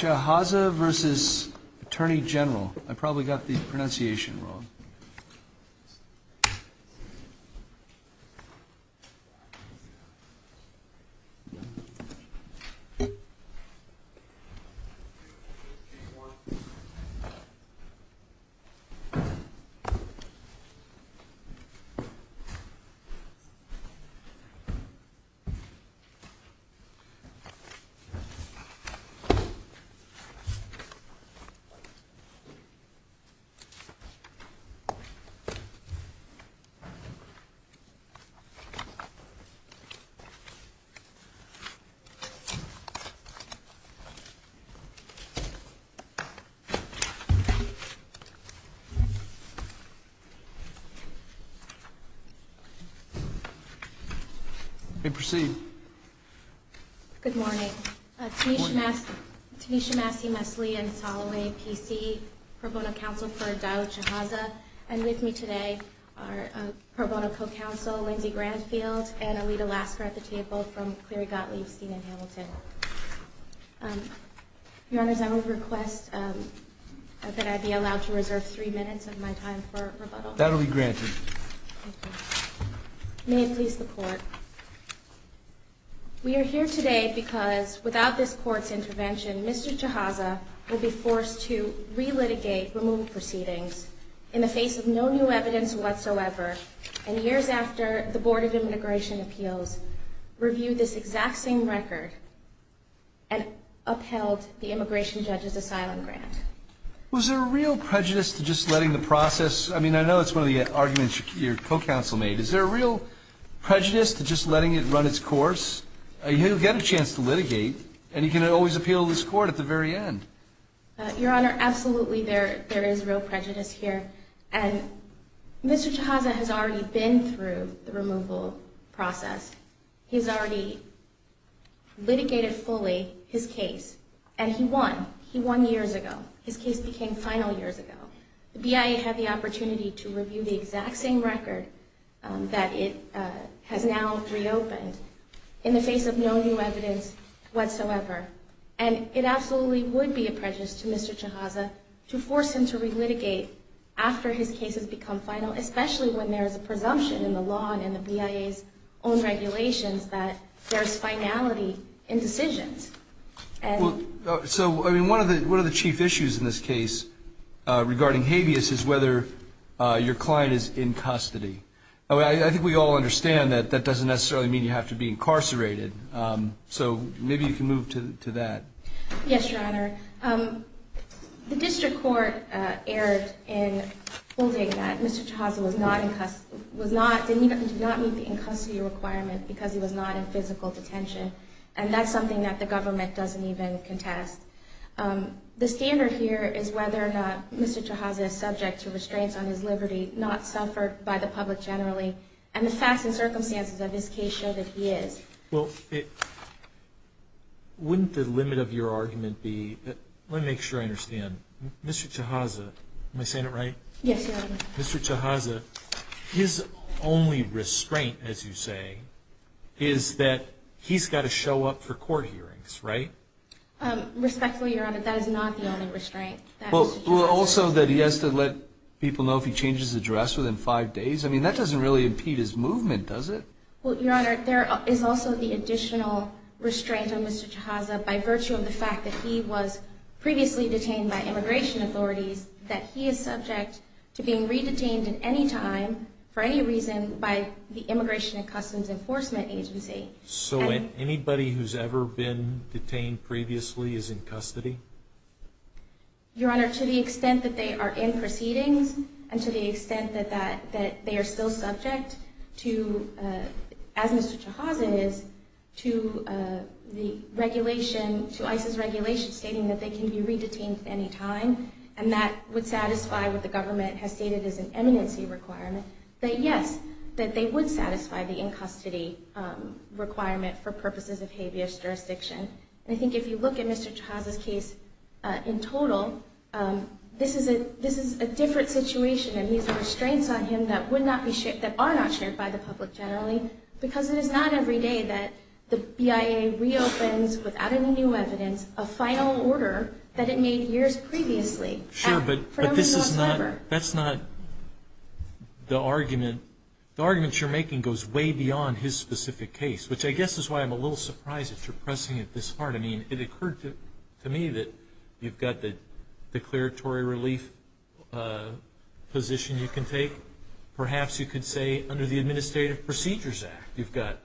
I probably got the pronunciation wrong. Good morning. Tanisha Massey-Mesley and Soloway, P.C., Pro Bono Council for Dao Chehazeh, and with me today are Pro Bono Co-Council Lindsey Granfield and Alita Lasker at the table from Cleary Gottlieb, Stephen Hamilton. Your Honors, I would request that I be allowed to reserve three minutes of my time for rebuttal. That will be granted. May it please the Court. We are here today because without this Court's intervention, Mr. Chehazeh will be forced to re-litigate removed proceedings in the face of no new evidence whatsoever, and years after the Board of Immigration Appeals reviewed this exact same record and upheld the immigration judge's asylum grant. Was there a real prejudice to just letting the process, I mean I know it's one of the arguments your co-council made, is there a real prejudice to just letting it run its course? You'll get a chance to litigate and you can always appeal to this Court at the very end. Your Honor, absolutely there is real prejudice here. And Mr. Chehazeh has already been through the removal process. He's already litigated fully his case. And he won. He won years ago. His case became final years ago. The BIA had the opportunity to review the exact same record that it has now reopened in the face of no new evidence whatsoever. And it absolutely would be a prejudice to Mr. Chehazeh to force him to re-litigate after his case has become final, especially when there is a presumption in the law and in the BIA's own regulations that there is finality in decisions. So one of the chief issues in this case regarding habeas is whether your client is in custody. I think we all understand that that doesn't necessarily mean you have to be incarcerated. So maybe you can move to that. Yes, Your Honor. The District Court erred in holding that Mr. Chehazeh did not meet the in-custody requirement because he was not in physical detention. And that's something that the government doesn't even contest. The standard here is whether or not Mr. Chehazeh is subject to restraints on his liberty, not suffered by the public generally. And the facts and circumstances of his case show that he is. Well, wouldn't the limit of your argument be, let me make sure I understand, Mr. Chehazeh, am I saying it right? Yes, Your Honor. Mr. Chehazeh, his only restraint, as you say, is that he's got to show up for court hearings, right? Respectfully, Your Honor, that is not the only restraint. Well, also that he has to let people know if he changes his address within five days? I mean, that doesn't really impede his movement, does it? Well, Your Honor, there is also the additional restraint on Mr. Chehazeh by virtue of the fact that he was previously detained by immigration authorities, that he is subject to being re-detained at any time, for any reason, by the Immigration and Customs Enforcement Agency. So anybody who's ever been detained previously is in custody? Your Honor, to the extent that they are in proceedings, and to the extent that they are still subject to, as Mr. Chehazeh is, to the regulation, to ICE's regulation stating that they can be re-detained at any time, and that would satisfy what the government has stated as an eminency requirement, that yes, that they would satisfy the in-custody requirement for purposes of habeas jurisdiction. And I think if you look at Mr. Chehazeh's case in total, this is a different situation, and these are restraints on him that are not shared by the public generally, because it is not every day that the BIA reopens, without any new evidence, a final order that it made years previously. Sure, but that's not the argument. The argument you're making goes way beyond his specific case, which I guess is why I'm a little surprised that you're pressing it this hard. I mean, it occurred to me that you've got the declaratory relief position you can take. Perhaps you could say, under the Administrative Procedures Act, you've got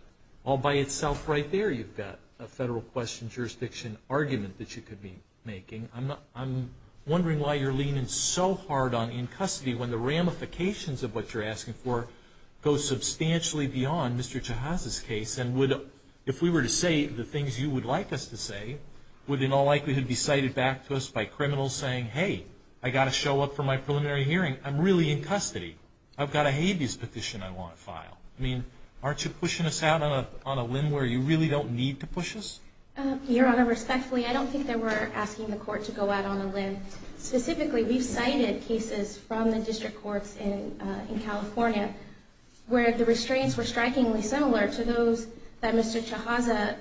all by itself right there. You've got a federal question jurisdiction argument that you could be making. I'm wondering why you're leaning so hard on in-custody when the ramifications of what you're asking for go substantially beyond Mr. Chehazeh's case. And if we were to say the things you would like us to say, would in all likelihood be cited back to us by criminals saying, hey, I've got to show up for my preliminary hearing. I'm really in custody. I've got a habeas petition I want filed. I mean, aren't you pushing us out on a limb where you really don't need to push us? Your Honor, respectfully, I don't think that we're asking the court to go out on a limb. Specifically, we've cited cases from the district courts in California where the restraints were strikingly similar to those that Mr. Chehazeh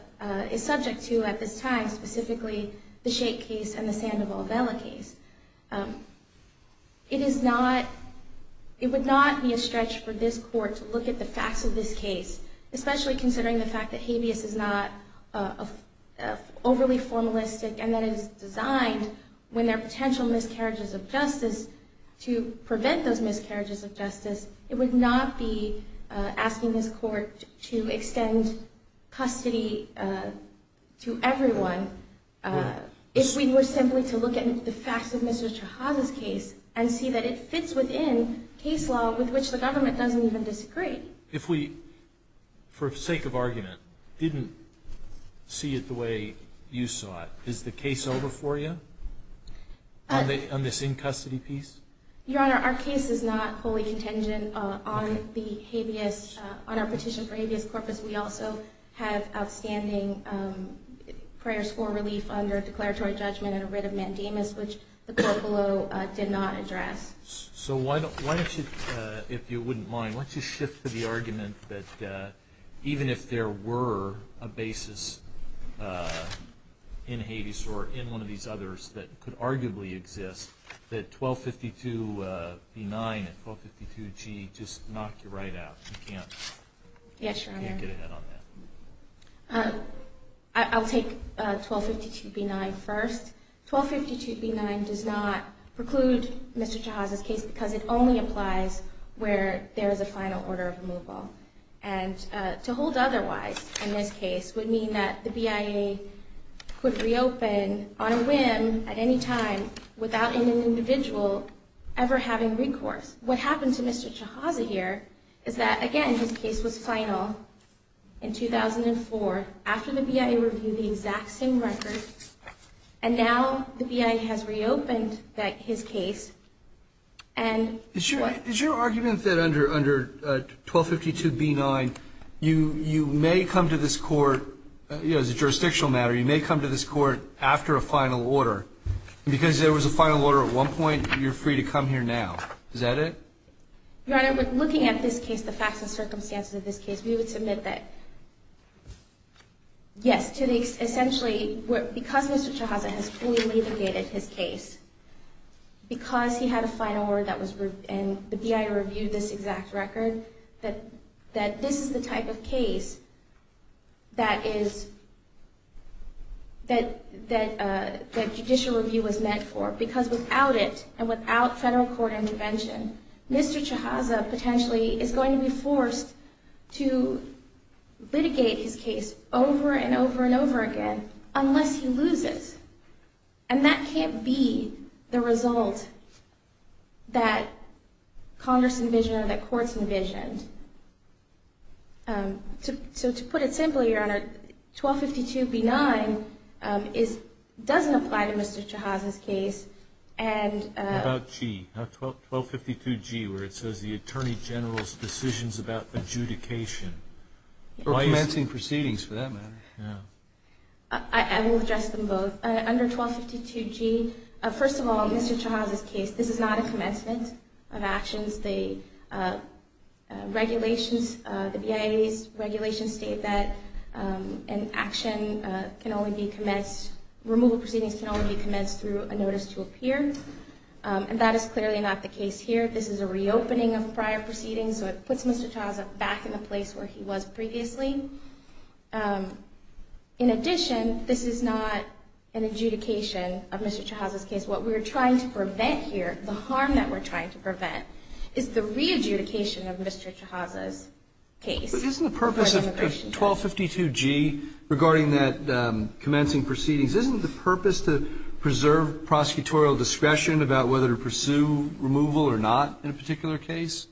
is subject to at this time, specifically the Shake case and the Sandoval-Bella case. It would not be a stretch for this court to look at the facts of this case, especially considering the fact that habeas is not overly formalistic and that it is designed, when there are potential miscarriages of justice, to prevent those miscarriages of justice. It would not be asking this court to extend custody to everyone if we were simply to look at the facts of Mr. Chehazeh's case and see that it fits within case law with which the government doesn't even disagree. If we, for sake of argument, didn't see it the way you saw it, is the case over for you on this in-custody piece? Your Honor, our case is not wholly contingent on our petition for habeas corpus. We also have outstanding prayers for relief under declaratory judgment and a writ of mandamus, which the court below did not address. So why don't you, if you wouldn't mind, why don't you shift to the argument that even if there were a basis in habeas or in one of these others that could arguably exist, that 1252B9 and 1252G just knock you right out? You can't get ahead on that. Yes, Your Honor. I'll take 1252B9 first. 1252B9 does not preclude Mr. Chehazeh's case because it only applies where there is a final order of removal. And to hold otherwise in this case would mean that the BIA could reopen on a whim at any time without any individual ever having recourse. What happened to Mr. Chehazeh here is that, again, his case was final in 2004 after the BIA reviewed the exact same record, and now the BIA has reopened his case and what? Is your argument that under 1252B9 you may come to this court, as a jurisdictional matter, you may come to this court after a final order because there was a final order at one point and you're free to come here now? Is that it? Your Honor, looking at this case, the facts and circumstances of this case, we would submit that yes, essentially because Mr. Chehazeh has fully litigated his case, because he had a final order and the BIA reviewed this exact record, that this is the type of case that judicial review was meant for. But because without it and without federal court intervention, Mr. Chehazeh potentially is going to be forced to litigate his case over and over and over again unless he loses. And that can't be the result that Congress envisioned or that courts envisioned. So to put it simply, Your Honor, 1252B9 doesn't apply to Mr. Chehazeh's case. What about 1252G, where it says the Attorney General's decisions about adjudication? Or commencing proceedings, for that matter. I will address them both. Under 1252G, first of all, in Mr. Chehazeh's case, this is not a commencement of actions. The regulations, the BIA's regulations state that an action can only be commenced, removal proceedings can only be commenced through a notice to appear. And that is clearly not the case here. This is a reopening of prior proceedings, so it puts Mr. Chehazeh back in the place where he was previously. In addition, this is not an adjudication of Mr. Chehazeh's case. What we're trying to prevent here, the harm that we're trying to prevent, is the re-adjudication of Mr. Chehazeh's case. But isn't the purpose of 1252G regarding that commencing proceedings, isn't the purpose to preserve prosecutorial discretion about whether to pursue removal or not in a particular case?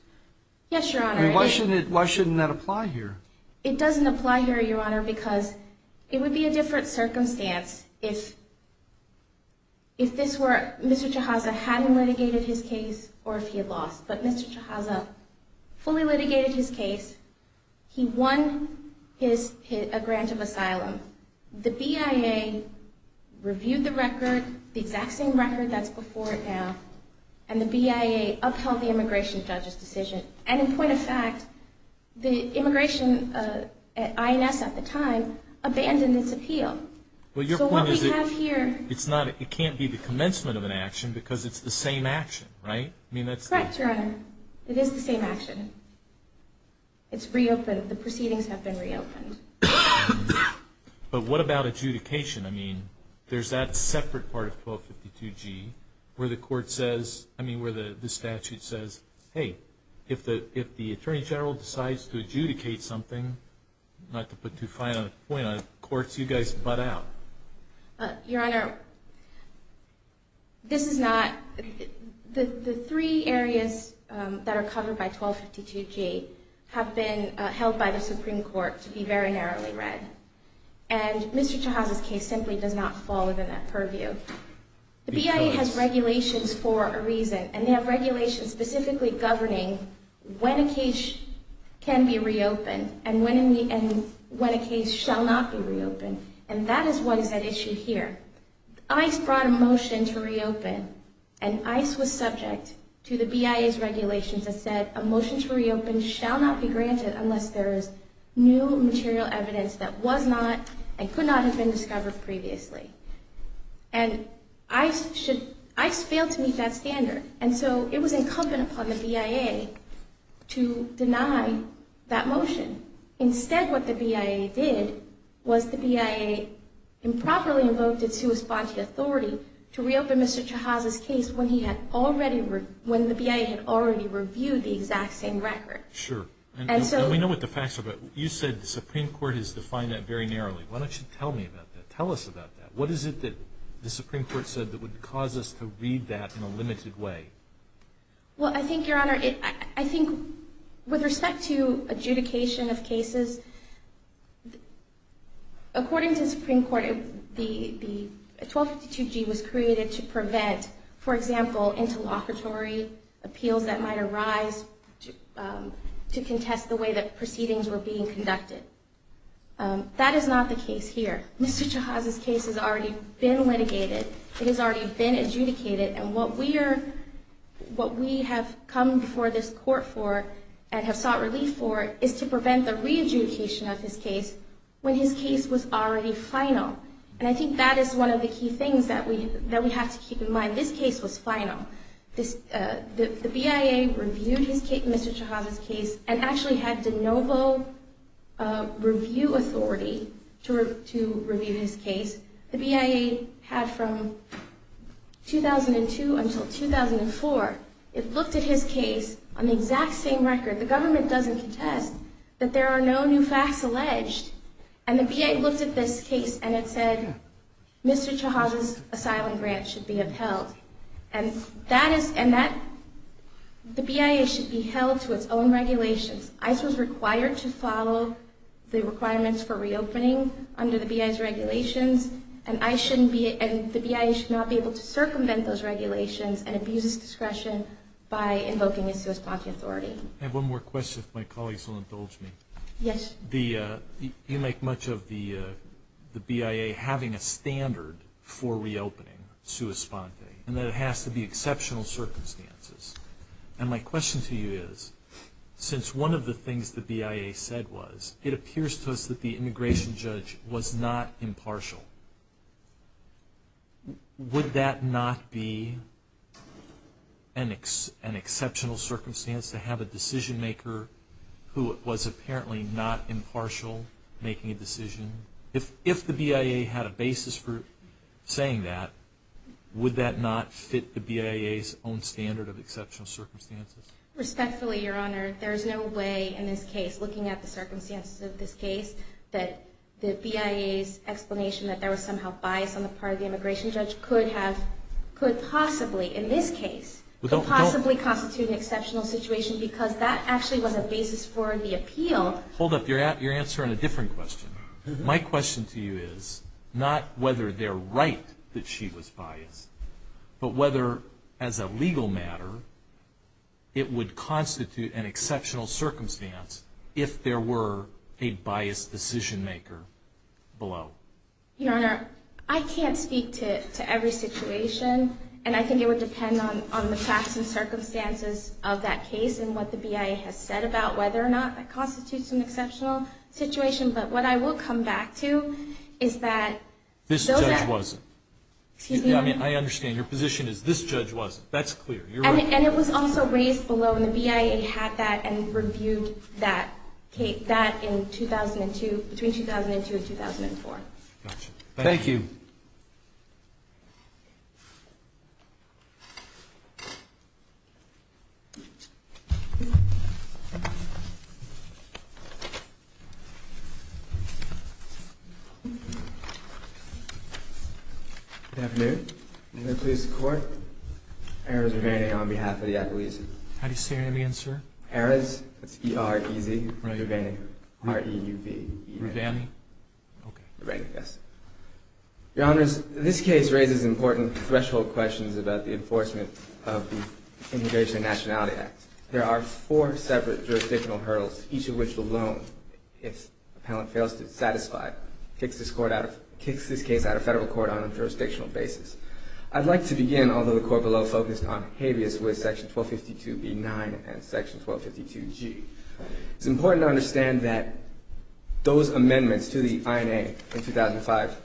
Yes, Your Honor. Why shouldn't that apply here? It doesn't apply here, Your Honor, because it would be a different circumstance if Mr. Chehazeh hadn't litigated his case or if he had lost. But Mr. Chehazeh fully litigated his case. He won a grant of asylum. The BIA reviewed the record, the exact same record that's before it now, and the BIA upheld the immigration judge's decision. And in point of fact, the immigration, INS at the time, abandoned its appeal. So what we have here... It can't be the commencement of an action because it's the same action, right? Correct, Your Honor. It is the same action. It's reopened. The proceedings have been reopened. But what about adjudication? I mean, there's that separate part of 1252G where the statute says, hey, if the Attorney General decides to adjudicate something, not to put too fine a point on it, courts, you guys butt out. Your Honor, this is not... The three areas that are covered by 1252G have been held by the Supreme Court to be very narrowly read. And Mr. Chehazeh's case simply does not fall within that purview. The BIA has regulations for a reason, and they have regulations specifically governing when a case can be reopened and when a case shall not be reopened. And that is what is at issue here. ICE brought a motion to reopen, and ICE was subject to the BIA's regulations that said a motion to reopen shall not be granted unless there is new material evidence that was not and could not have been discovered previously. And ICE failed to meet that standard, and so it was incumbent upon the BIA to deny that motion. Instead, what the BIA did was the BIA improperly invoked its who-responded authority to reopen Mr. Chehazeh's case when the BIA had already reviewed the exact same record. Sure. We know what the facts are, but you said the Supreme Court has defined that very narrowly. Why don't you tell me about that? Tell us about that. What is it that the Supreme Court said that would cause us to read that in a limited way? Well, I think, Your Honor, I think with respect to adjudication of cases, according to the Supreme Court, the 1252G was created to prevent, for example, interlocutory appeals that might arise to contest the way that proceedings were being conducted. That is not the case here. Mr. Chehazeh's case has already been litigated. It has already been adjudicated, and what we have come before this Court for and have sought relief for is to prevent the re-adjudication of his case when his case was already final. And I think that is one of the key things that we have to keep in mind. This case was final. The BIA reviewed Mr. Chehazeh's case and actually had de novo review authority to review his case. The BIA had from 2002 until 2004. It looked at his case on the exact same record. The government doesn't contest that there are no new facts alleged, and the BIA looked at this case and it said, Mr. Chehazeh's asylum grant should be upheld. And the BIA should be held to its own regulations. ICE was required to follow the requirements for reopening under the BIA's regulations, and the BIA should not be able to circumvent those regulations and abuse its discretion by invoking a sua sponte authority. I have one more question if my colleagues will indulge me. Yes. You make much of the BIA having a standard for reopening sua sponte, and that it has to be exceptional circumstances. And my question to you is, since one of the things the BIA said was, it appears to us that the immigration judge was not impartial, would that not be an exceptional circumstance to have a decision maker who was apparently not impartial making a decision? If the BIA had a basis for saying that, would that not fit the BIA's own standard of exceptional circumstances? Respectfully, Your Honor, there is no way in this case, looking at the circumstances of this case, that the BIA's explanation that there was somehow bias on the part of the immigration judge could possibly, in this case, could possibly constitute an exceptional situation because that actually was a basis for the appeal. Hold up. You're answering a different question. My question to you is not whether they're right that she was biased, but whether, as a legal matter, it would constitute an exceptional circumstance if there were a biased decision maker below. Your Honor, I can't speak to every situation, and I think it would depend on the facts and circumstances of that case and what the BIA has said about whether or not that constitutes an exceptional situation, but what I will come back to is that... This judge wasn't. Excuse me? I mean, I understand. Your position is this judge wasn't. That's clear. You're right. And it was also raised below, and the BIA had that and reviewed that in 2002, between 2002 and 2004. Gotcha. Thank you. Good afternoon. May I please have the court? Erez Ruvani on behalf of the acquittal. How do you say your name again, sir? Erez. That's E-R-E-Z. Right. Ruvani. R-E-U-V-I. Ruvani? Okay. Ruvani, yes. about the enforcement of the Immigration and Nationality Act. There are a number of questions, jurisdictional hurdles, each of which alone, if the appellant fails to satisfy, kicks this case out of federal court on a jurisdictional basis. I'd like to begin, although the court below focused on habeas, with Section 1252b-9 and Section 1252g. It's important to understand that those amendments to the INA in 2005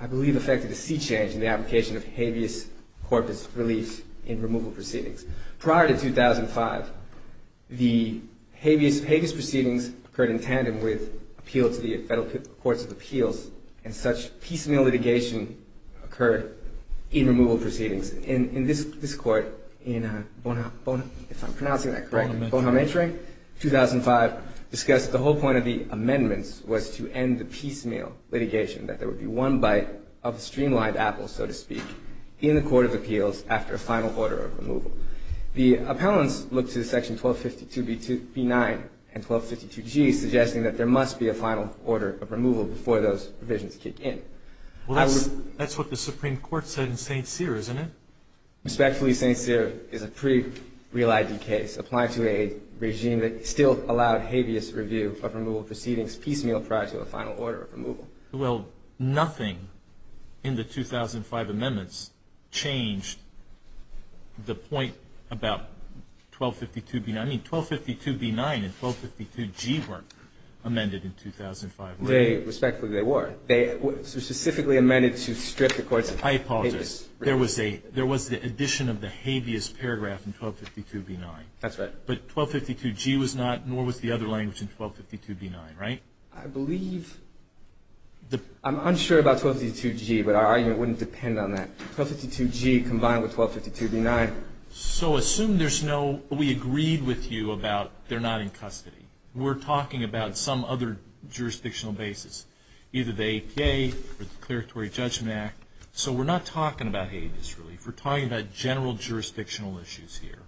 I believe affected a sea change in the application of habeas corpus relief in removal proceedings. Prior to 2005, the habeas proceedings occurred in tandem with appeal to the Federal Courts of Appeals and such piecemeal litigation occurred in removal proceedings. In this court, in Bonamentra 2005, discussed the whole point of the amendments was to end the piecemeal litigation, that there would be one bite of a streamlined apple, so to speak, in the Court of Appeals after a final order of removal. The appellants looked to Section 1252b-9 and 1252g suggesting that there must be a final order of removal before those provisions kick in. Well, that's what the Supreme Court said in St. Cyr, isn't it? Respectfully, St. Cyr is a pretty real ID case applied to a regime that still allowed habeas review of removal proceedings piecemeal prior to a final order of removal. Well, nothing in the 2005 amendments changed the point about 1252b-9. I mean, 1252b-9 and 1252g weren't amended in 2005, were they? Respectfully, they were. They were specifically amended to strip the courts of habeas. I apologize. There was the addition of the habeas paragraph in 1252b-9. That's right. But 1252g was not, nor was the other language in 1252b-9, right? I believe. I'm unsure about 1252g, but our argument wouldn't depend on that. 1252g combined with 1252b-9. So assume there's no, we agreed with you about they're not in custody. We're talking about some other jurisdictional basis, either the APA or the Declaratory Judgment Act. So we're not talking about habeas relief. We're talking about general jurisdictional issues here.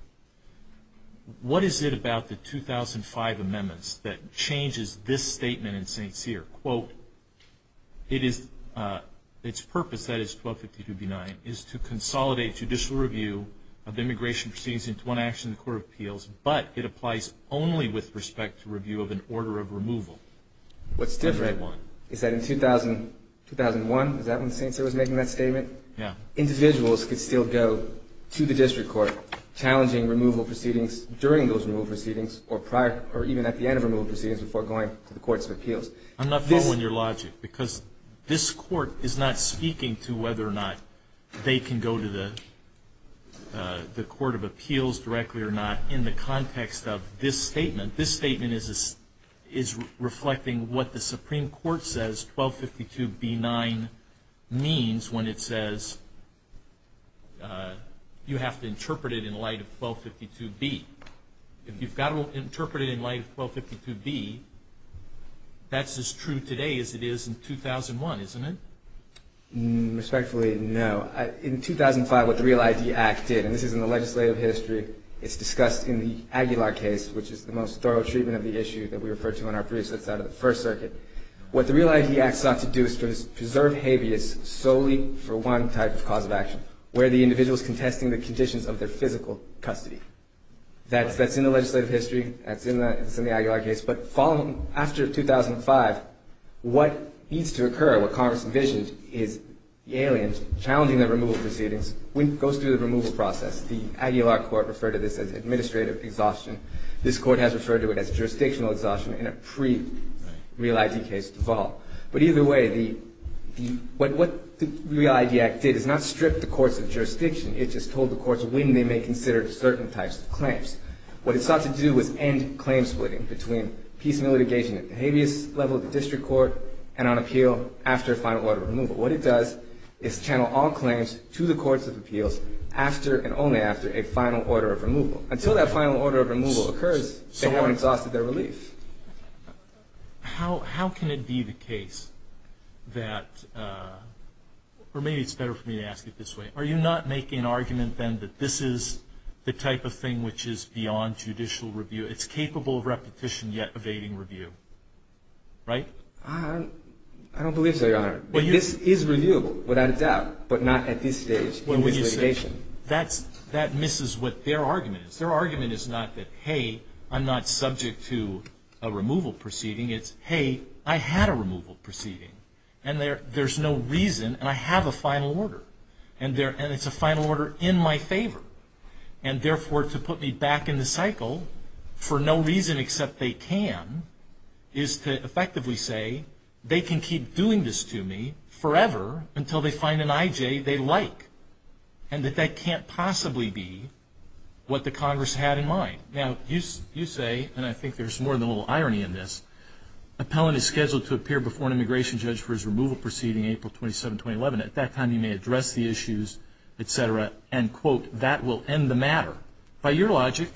What is it about the 2005 amendments that changes this statement in St. Cyr? Quote, its purpose, that is, 1252b-9, is to consolidate judicial review of the immigration proceedings into one action in the Court of Appeals, but it applies only with respect to review of an order of removal. What's different is that in 2001, is that when St. Cyr was making that statement? Yeah. Individuals could still go to the district court challenging removal proceedings during those removal proceedings or even at the end of removal proceedings before going to the Courts of Appeals. I'm not following your logic because this Court is not speaking to whether or not they can go to the Court of Appeals directly or not in the context of this statement. This statement is reflecting what the Supreme Court says 1252b-9 means when it says you have to interpret it in light of 1252b. If you've got to interpret it in light of 1252b, that's as true today as it is in 2001, isn't it? Respectfully, no. In 2005, what the Real ID Act did, and this is in the legislative history, it's discussed in the Aguilar case, which is the most thorough treatment of the issue that we refer to in our briefs that's out of the First Circuit. What the Real ID Act sought to do is to preserve habeas solely for one type of cause of action, where the individual is contesting the conditions of their physical custody. That's in the legislative history. That's in the Aguilar case. But following, after 2005, what needs to occur, what Congress envisioned, is the aliens challenging the removal proceedings. When it goes through the removal process, the Aguilar Court referred to this as administrative exhaustion. This Court has referred to it as jurisdictional exhaustion in a pre-Real ID case default. But either way, what the Real ID Act did is not strip the courts of jurisdiction. It just told the courts when they may consider certain types of claims. What it sought to do was end claim splitting between peace and litigation at the habeas level of the district court and on appeal after a final order of removal. What it does is channel all claims to the courts of appeals after and only after a final order of removal. Until that final order of removal occurs, they haven't exhausted their relief. How can it be the case that... Or maybe it's better for me to ask it this way. Are you not making an argument then that this is the type of thing which is beyond judicial review? It's capable of repetition yet evading review, right? I don't believe so, Your Honor. This is reviewable, without a doubt, but not at this stage in litigation. That misses what their argument is. Their argument is not that, hey, I'm not subject to a removal proceeding. It's, hey, I had a removal proceeding. And there's no reason, and I have a final order. And it's a final order in my favor. And therefore, to put me back in the cycle for no reason except they can is to effectively say they can keep doing this to me forever until they find an I.J. they like. And that that can't possibly be what the Congress had in mind. Now, you say, and I think there's more than a little irony in this, appellant is scheduled to appear before an immigration judge for his removal proceeding April 27, 2011. At that time, you may address the issues, etc. And, quote, that will end the matter. By your logic,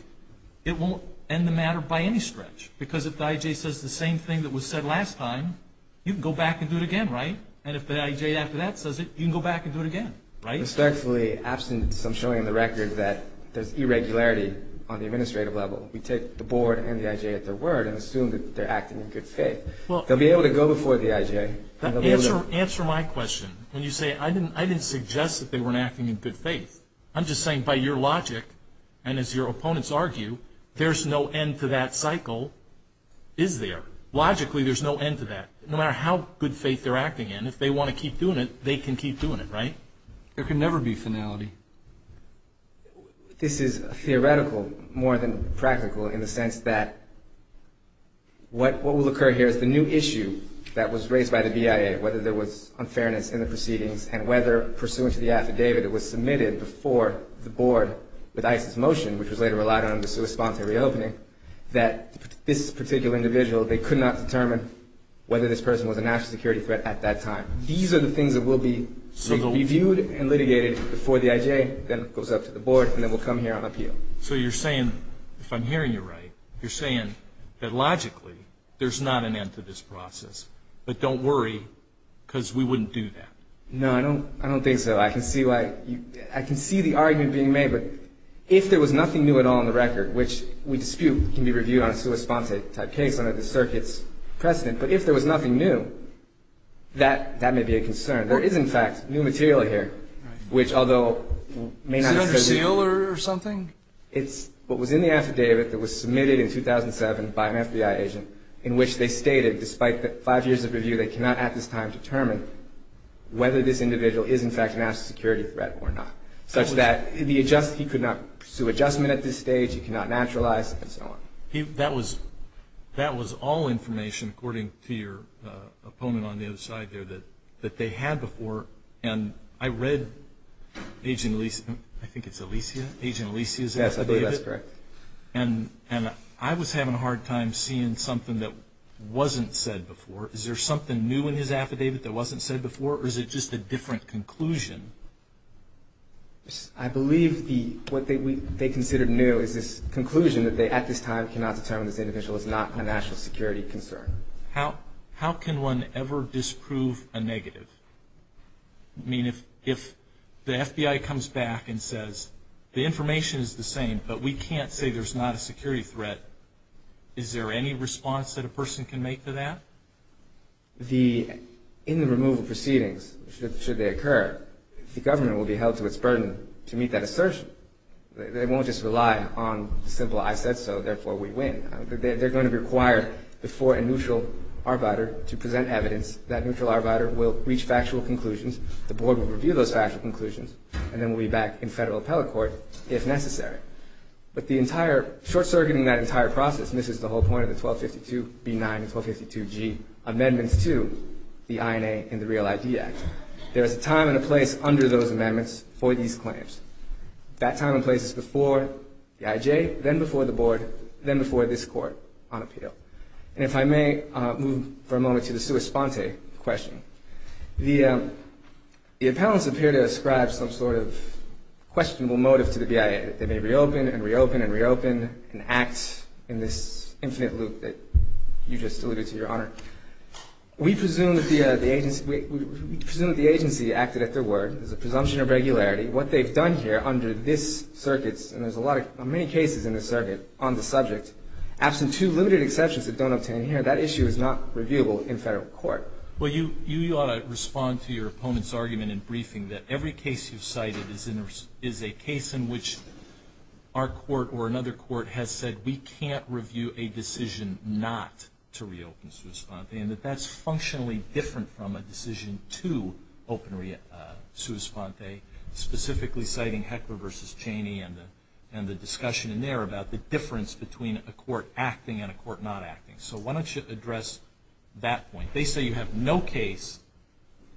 it won't end the matter by any stretch. Because if the I.J. says the same thing that was said last time, you can go back and do it again, right? And if the I.J. after that says it, you can go back and do it again, right? Respectfully, absent some showing on the record that there's irregularity on the administrative level, we take the board and the I.J. at their word and assume that they're acting in good faith. They'll be able to go before the I.J. Answer my question when you say, I didn't suggest that they weren't acting in good faith. I'm just saying, by your logic, and as your opponents argue, there's no end to that cycle, is there? Logically, there's no end to that. No matter how good faith they're acting in, if they want to keep doing it, they can keep doing it, right? There can never be finality. This is theoretical more than practical in the sense that what will occur here is the new issue that was raised by the B.I.A., whether there was unfairness in the proceedings and whether, pursuant to the affidavit that was submitted before the board with ICE's motion, which was later relied on in response to the reopening, that this particular individual, they could not determine whether this person was a national security threat at that time. These are the things that will be reviewed and litigated before the I.J. then goes up to the board and then will come here on appeal. So you're saying, if I'm hearing you right, you're saying that, logically, there's not an end to this process. But don't worry, because we wouldn't do that. No, I don't think so. I can see the argument being made, but if there was nothing new at all in the record, which we dispute can be reviewed on a sua sponsa type case under the circuit's precedent, but if there was nothing new, that may be a concern. There is, in fact, new material here, which, although may not be... Is it under seal or something? It's what was in the affidavit that was submitted in 2007 by an FBI agent in which they stated, despite the five years of review, they cannot at this time determine whether this individual is, in fact, a national security threat or not, such that he could not pursue adjustment at this stage, he could not naturalize, and so on. That was all information, according to your opponent on the other side there, that they had before. And I read Agent Alicia... I think it's Alicia? Agent Alicia's affidavit? Yes, I believe that's correct. And I was having a hard time seeing something that wasn't said before. Is there something new in his affidavit that wasn't said before, or is it just a different conclusion? I believe what they considered new is this conclusion that they, at this time, cannot determine this individual is not a national security concern. How can one ever disprove a negative? I mean, if the FBI comes back and says the information is the same, but we can't say there's not a security threat, is there any response that a person can make to that? In the removal proceedings, should they occur, the government will be held to its burden to meet that assertion. They won't just rely on the simple, I said so, therefore we win. They're going to require the foreign neutral arbiter to present evidence that neutral arbiter will reach factual conclusions, the board will review those factual conclusions, and then we'll be back in federal appellate court if necessary. But the entire, short-circuiting that entire process, and this is the whole point of the 1252B9 and 1252G amendments to the INA and the Real ID Act, there is a time and a place under those amendments for these claims. That time and place is before the IJ, then before the board, then before this Court on appeal. And if I may move for a moment to the sua sponte question. The appellants appear to ascribe some sort of questionable motive to the BIA, that they may reopen and reopen and reopen and act in this infinite loop that you just alluded to, Your Honor. We presume that the agency acted at their word, there's a presumption of regularity. What they've done here under this circuit, and there's many cases in this circuit on the subject, absent two limited exceptions that don't obtain here, that issue is not reviewable in federal court. Well, you ought to respond to your opponent's argument in briefing that every case you've cited is a case in which our court or another court has said we can't review a decision not to reopen sua sponte, and that that's functionally different from a decision to open sua sponte, specifically citing Heckler v. Cheney and the discussion in there about the difference between a court acting and a court not acting. So why don't you address that point? They say you have no case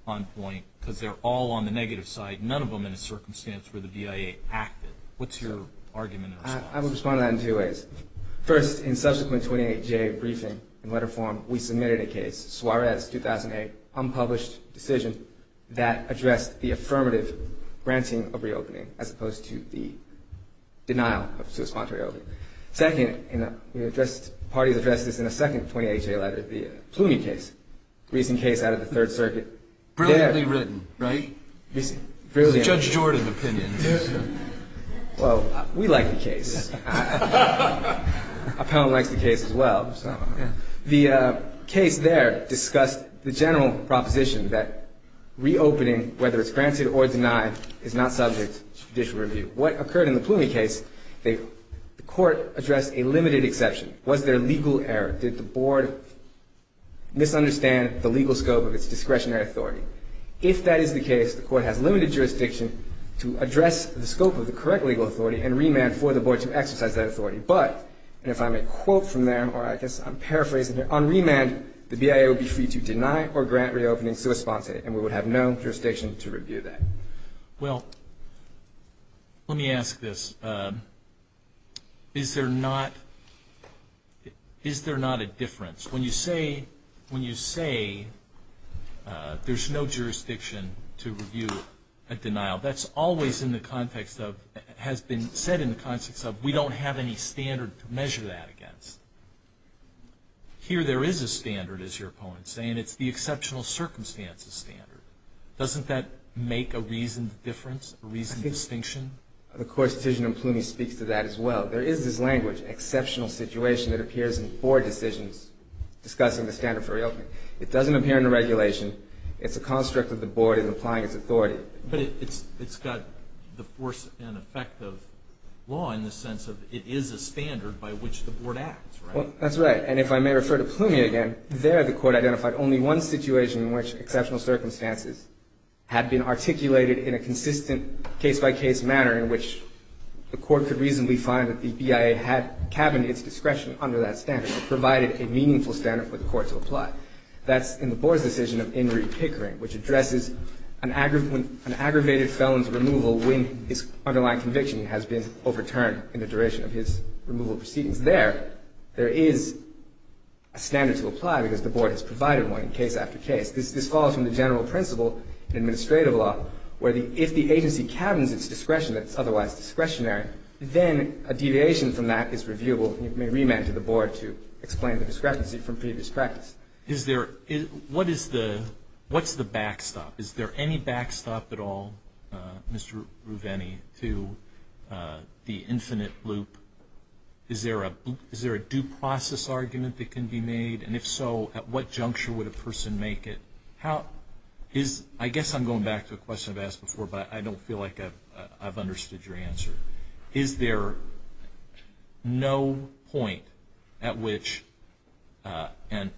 on point because they're all on the negative side, none of them in a circumstance where the BIA acted. What's your argument in response? I would respond to that in two ways. First, in subsequent 28-J briefing and letter form, we submitted a case, Suarez 2008, unpublished decision, that addressed the affirmative granting of reopening as opposed to the denial of sua sponte reopening. Second, the parties addressed this in a second 28-J letter, the Plumy case, a recent case out of the Third Circuit. Brilliantly written, right? It's a Judge Jordan opinion. Well, we like the case. Our panel likes the case as well. The case there discussed the general proposition that reopening, whether it's granted or denied, is not subject to judicial review. What occurred in the Plumy case, the court addressed a limited exception. Was there legal error? Did the board misunderstand the legal scope of its discretionary authority? If that is the case, the court has limited jurisdiction to address the scope of the correct legal authority and remand for the board to exercise that authority. But, and if I may quote from there, or I guess I'm paraphrasing here, on remand, the BIA would be free to deny or grant reopening sua sponte, and we would have no jurisdiction to review that. Well, let me ask this. Is there not a difference? When you say there's no jurisdiction to review a denial, that's always in the context of, has been said in the context of, we don't have any standard to measure that against. Here there is a standard, as your opponent is saying, and it's the exceptional circumstances standard. Doesn't that make a reasoned difference, a reasoned distinction? I think the court's decision in Plumy speaks to that as well. There is this language, exceptional situation, that appears in board decisions discussing the standard for reopening. It doesn't appear in the regulation. It's a construct that the board is applying its authority. But it's got the force and effect of law in the sense of it is a standard by which the board acts, right? Well, that's right. And if I may refer to Plumy again, there the court identified only one situation in which exceptional circumstances had been articulated in a consistent case-by-case manner in which the court could reasonably find that the BIA had cabined its discretion under that standard and provided a meaningful standard for the court to apply. That's in the board's decision of In re Pickering, which addresses an aggravated felon's removal when his underlying conviction has been overturned in the duration of his removal proceedings. There is a standard to apply because the board has provided one case after case. This falls from the general principle in administrative law where if the agency cabins its discretion that's otherwise discretionary, then a deviation from that is reviewable. You may remand to the board to explain the discrepancy from previous practice. What's the backstop? Is there any backstop at all, Mr. Ruveni, to the infinite loop? Is there a due process argument that can be made? And if so, at what juncture would a person make it? I guess I'm going back to a question I've asked before, but I don't feel like I've understood your answer. Is there no point at which an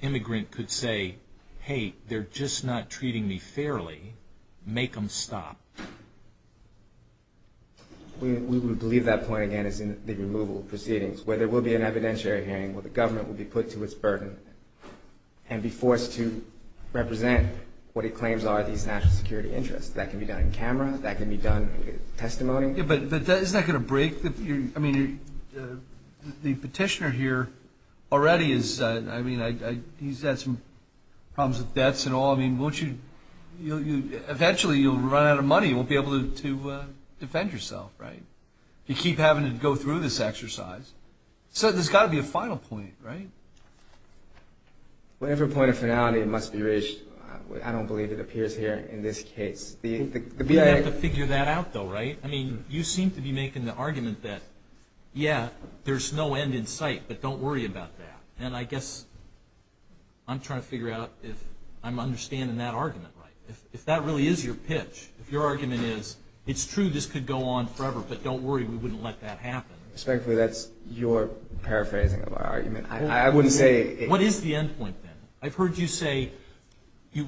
immigrant could say, hey, they're just not treating me fairly. Make them stop. We would believe that point, again, is in the removal proceedings where there will be an evidentiary hearing where the government will be put to its burden and be forced to represent what it claims are these national security interests. That can be done in camera. That can be done in testimony. Yeah, but isn't that going to break? I mean, the petitioner here already is, I mean, he's had some problems with debts and all. I mean, eventually you'll run out of money. You won't be able to defend yourself, right? You keep having to go through this exercise. So there's got to be a final point, right? Well, every point of finality must be reached. I don't believe it appears here in this case. You have to figure that out, though, right? I mean, you seem to be making the argument that, yeah, there's no end in sight, but don't worry about that. And I guess I'm trying to figure out if I'm understanding that argument right. If that really is your pitch, if your argument is, it's true, this could go on forever, but don't worry, we wouldn't let that happen. Respectfully, that's your paraphrasing of our argument. I wouldn't say it. What is the end point, then? I've heard you say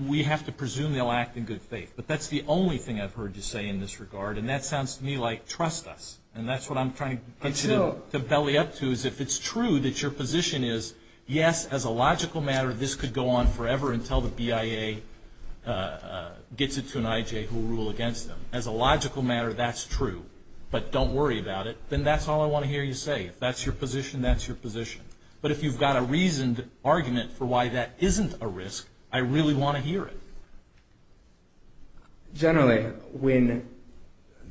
we have to presume they'll act in good faith, but that's the only thing I've heard you say in this regard, and that sounds to me like trust us, and that's what I'm trying to belly up to, is if it's true that your position is, yes, as a logical matter, this could go on forever until the BIA gets it to an IJ who will rule against them. As a logical matter, that's true, but don't worry about it. Then that's all I want to hear you say. If that's your position, that's your position. But if you've got a reasoned argument for why that isn't a risk, I really want to hear it. Generally, when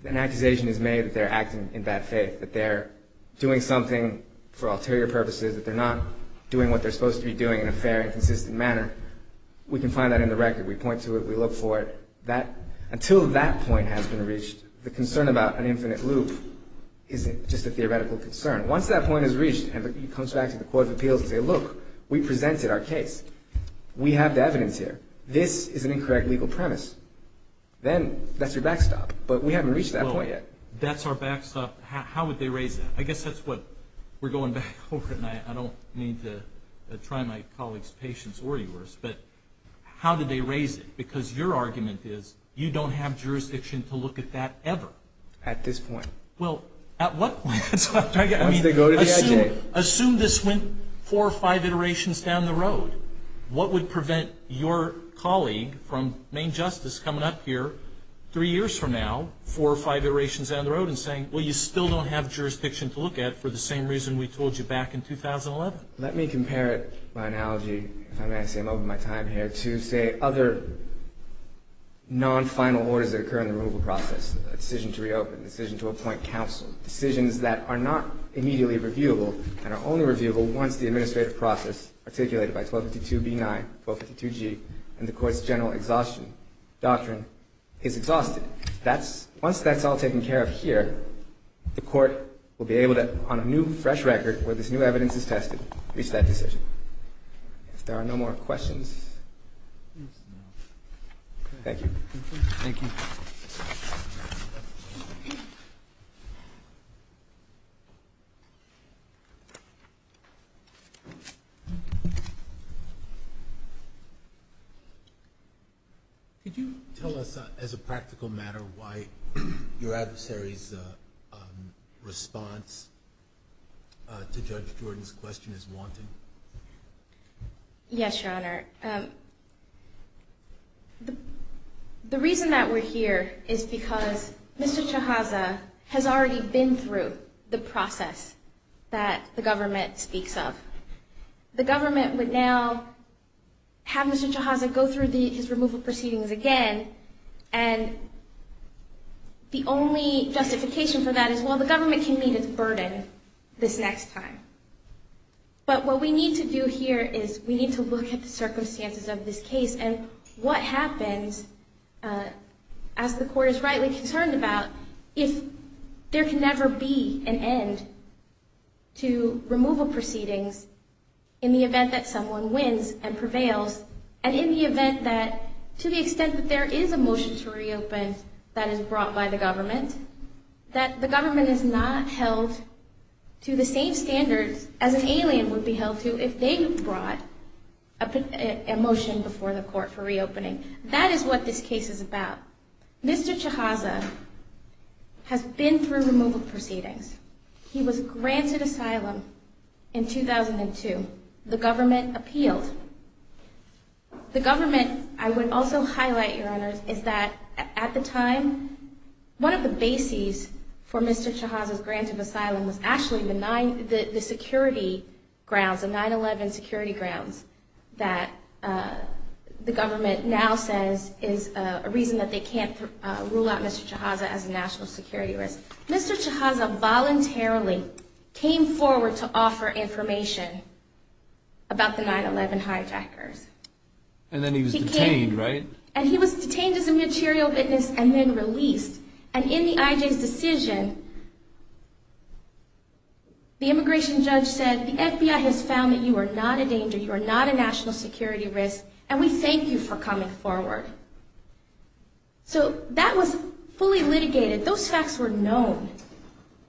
an accusation is made that they're acting in bad faith, that they're doing something for ulterior purposes, that they're not doing what they're supposed to be doing in a fair and consistent manner, we can find that in the record. We point to it. We look for it. Until that point has been reached, the concern about an infinite loop is just a theoretical concern. Once that point is reached, it comes back to the court of appeals and says, look, we presented our case. We have the evidence here. This is an incorrect legal premise. Then that's your backstop, but we haven't reached that point yet. That's our backstop. How would they raise that? I guess that's what we're going back over, and I don't mean to try my colleague's patience or yours, but how did they raise it? Because your argument is you don't have jurisdiction to look at that ever. At this point. Well, at what point? Once they go to the IJ. Assume this went four or five iterations down the road. What would prevent your colleague from main justice coming up here three years from now, four or five iterations down the road and saying, well, you still don't have jurisdiction to look at for the same reason we told you back in 2011? Let me compare it by analogy, if I may say, I'm over my time here, to say other non-final orders that occur in the removal process, a decision to reopen, a decision to appoint counsel, decisions that are not immediately reviewable and are only reviewable once the administrative process articulated by 1252B9, 1252G, and the court's general exhaustion doctrine is exhausted. Once that's all taken care of here, the court will be able to, on a new, fresh record, where this new evidence is tested, reach that decision. If there are no more questions. Thank you. Thank you. Thank you. Could you tell us, as a practical matter, why your adversary's response to Judge Jordan's question is wanting? Yes, Your Honor. The reason that we're here is because Mr. Chiazza has already been through the process that the government speaks of. The government would now have Mr. Chiazza go through his removal proceedings again, and the only justification for that is, well, the government can meet its burden this next time. But what we need to do here is we need to look at the circumstances of this case and what happens, as the court is rightly concerned about, if there can never be an end to removal proceedings in the event that someone wins and prevails, and in the event that, to the extent that there is a motion to reopen that is brought by the government, that the government is not held to the same standards as an alien would be held to if they brought a motion before the court for reopening. That is what this case is about. Mr. Chiazza has been through removal proceedings. He was granted asylum in 2002. The government appealed. The government, I would also highlight, Your Honor, is that at the time, one of the bases for Mr. Chiazza's grant of asylum was actually the security grounds, the 9-11 security grounds, that the government now says is a reason that they can't rule out Mr. Chiazza as a national security risk. Mr. Chiazza voluntarily came forward to offer information about the 9-11 hijackers. And then he was detained, right? And he was detained as a material witness and then released. And in the IJ's decision, the immigration judge said, the FBI has found that you are not a danger, you are not a national security risk, and we thank you for coming forward. So that was fully litigated. Those facts were known.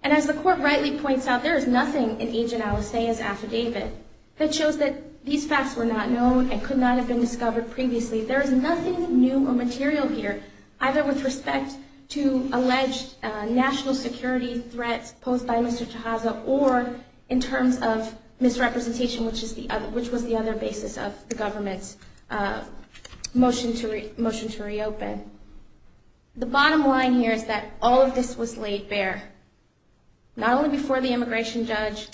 And as the court rightly points out, there is nothing in Agent Alastair's affidavit that shows that these facts were not known and could not have been discovered previously. There is nothing new or material here, either with respect to alleged national security threats posed by Mr. Chiazza or in terms of misrepresentation, which was the other basis of the government's motion to reopen. The bottom line here is that all of this was laid bare, not only before the immigration judge,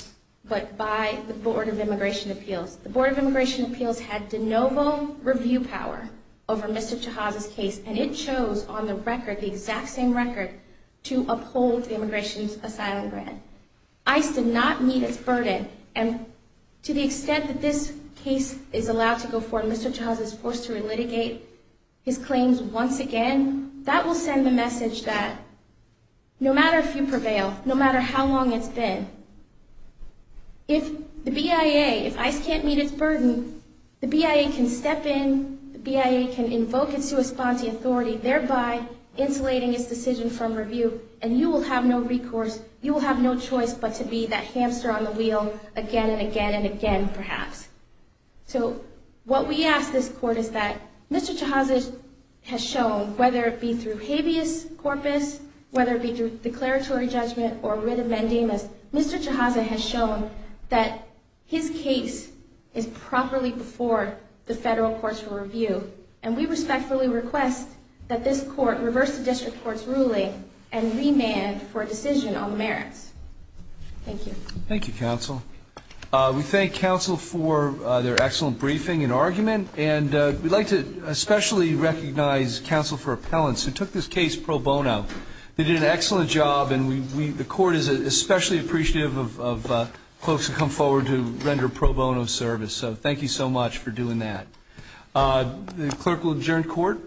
but by the Board of Immigration Appeals. The Board of Immigration Appeals had de novo review power over Mr. Chiazza's case, and it chose on the record, the exact same record, to uphold the immigration asylum grant. ICE did not meet its burden, and to the extent that this case is allowed to go forward and Mr. Chiazza is forced to relitigate his claims once again, that will send the message that no matter if you prevail, no matter how long it's been, if the BIA, if ICE can't meet its burden, the BIA can step in, the BIA can invoke its sua sponte authority, thereby insulating its decision from review, and you will have no recourse, you will have no choice but to be that hamster on the wheel again and again and again, perhaps. So what we ask this court is that Mr. Chiazza has shown, whether it be through habeas corpus, whether it be through declaratory judgment or writ amendemus, Mr. Chiazza has shown that his case is properly before the federal courts for review, and we respectfully request that this court reverse the district court's ruling and remand for a decision on the merits. Thank you. Thank you, counsel. We thank counsel for their excellent briefing and argument, and we'd like to especially recognize counsel for appellants who took this case pro bono. They did an excellent job, and the court is especially appreciative of folks who come forward to render pro bono service. So thank you so much for doing that. The clerk will adjourn court.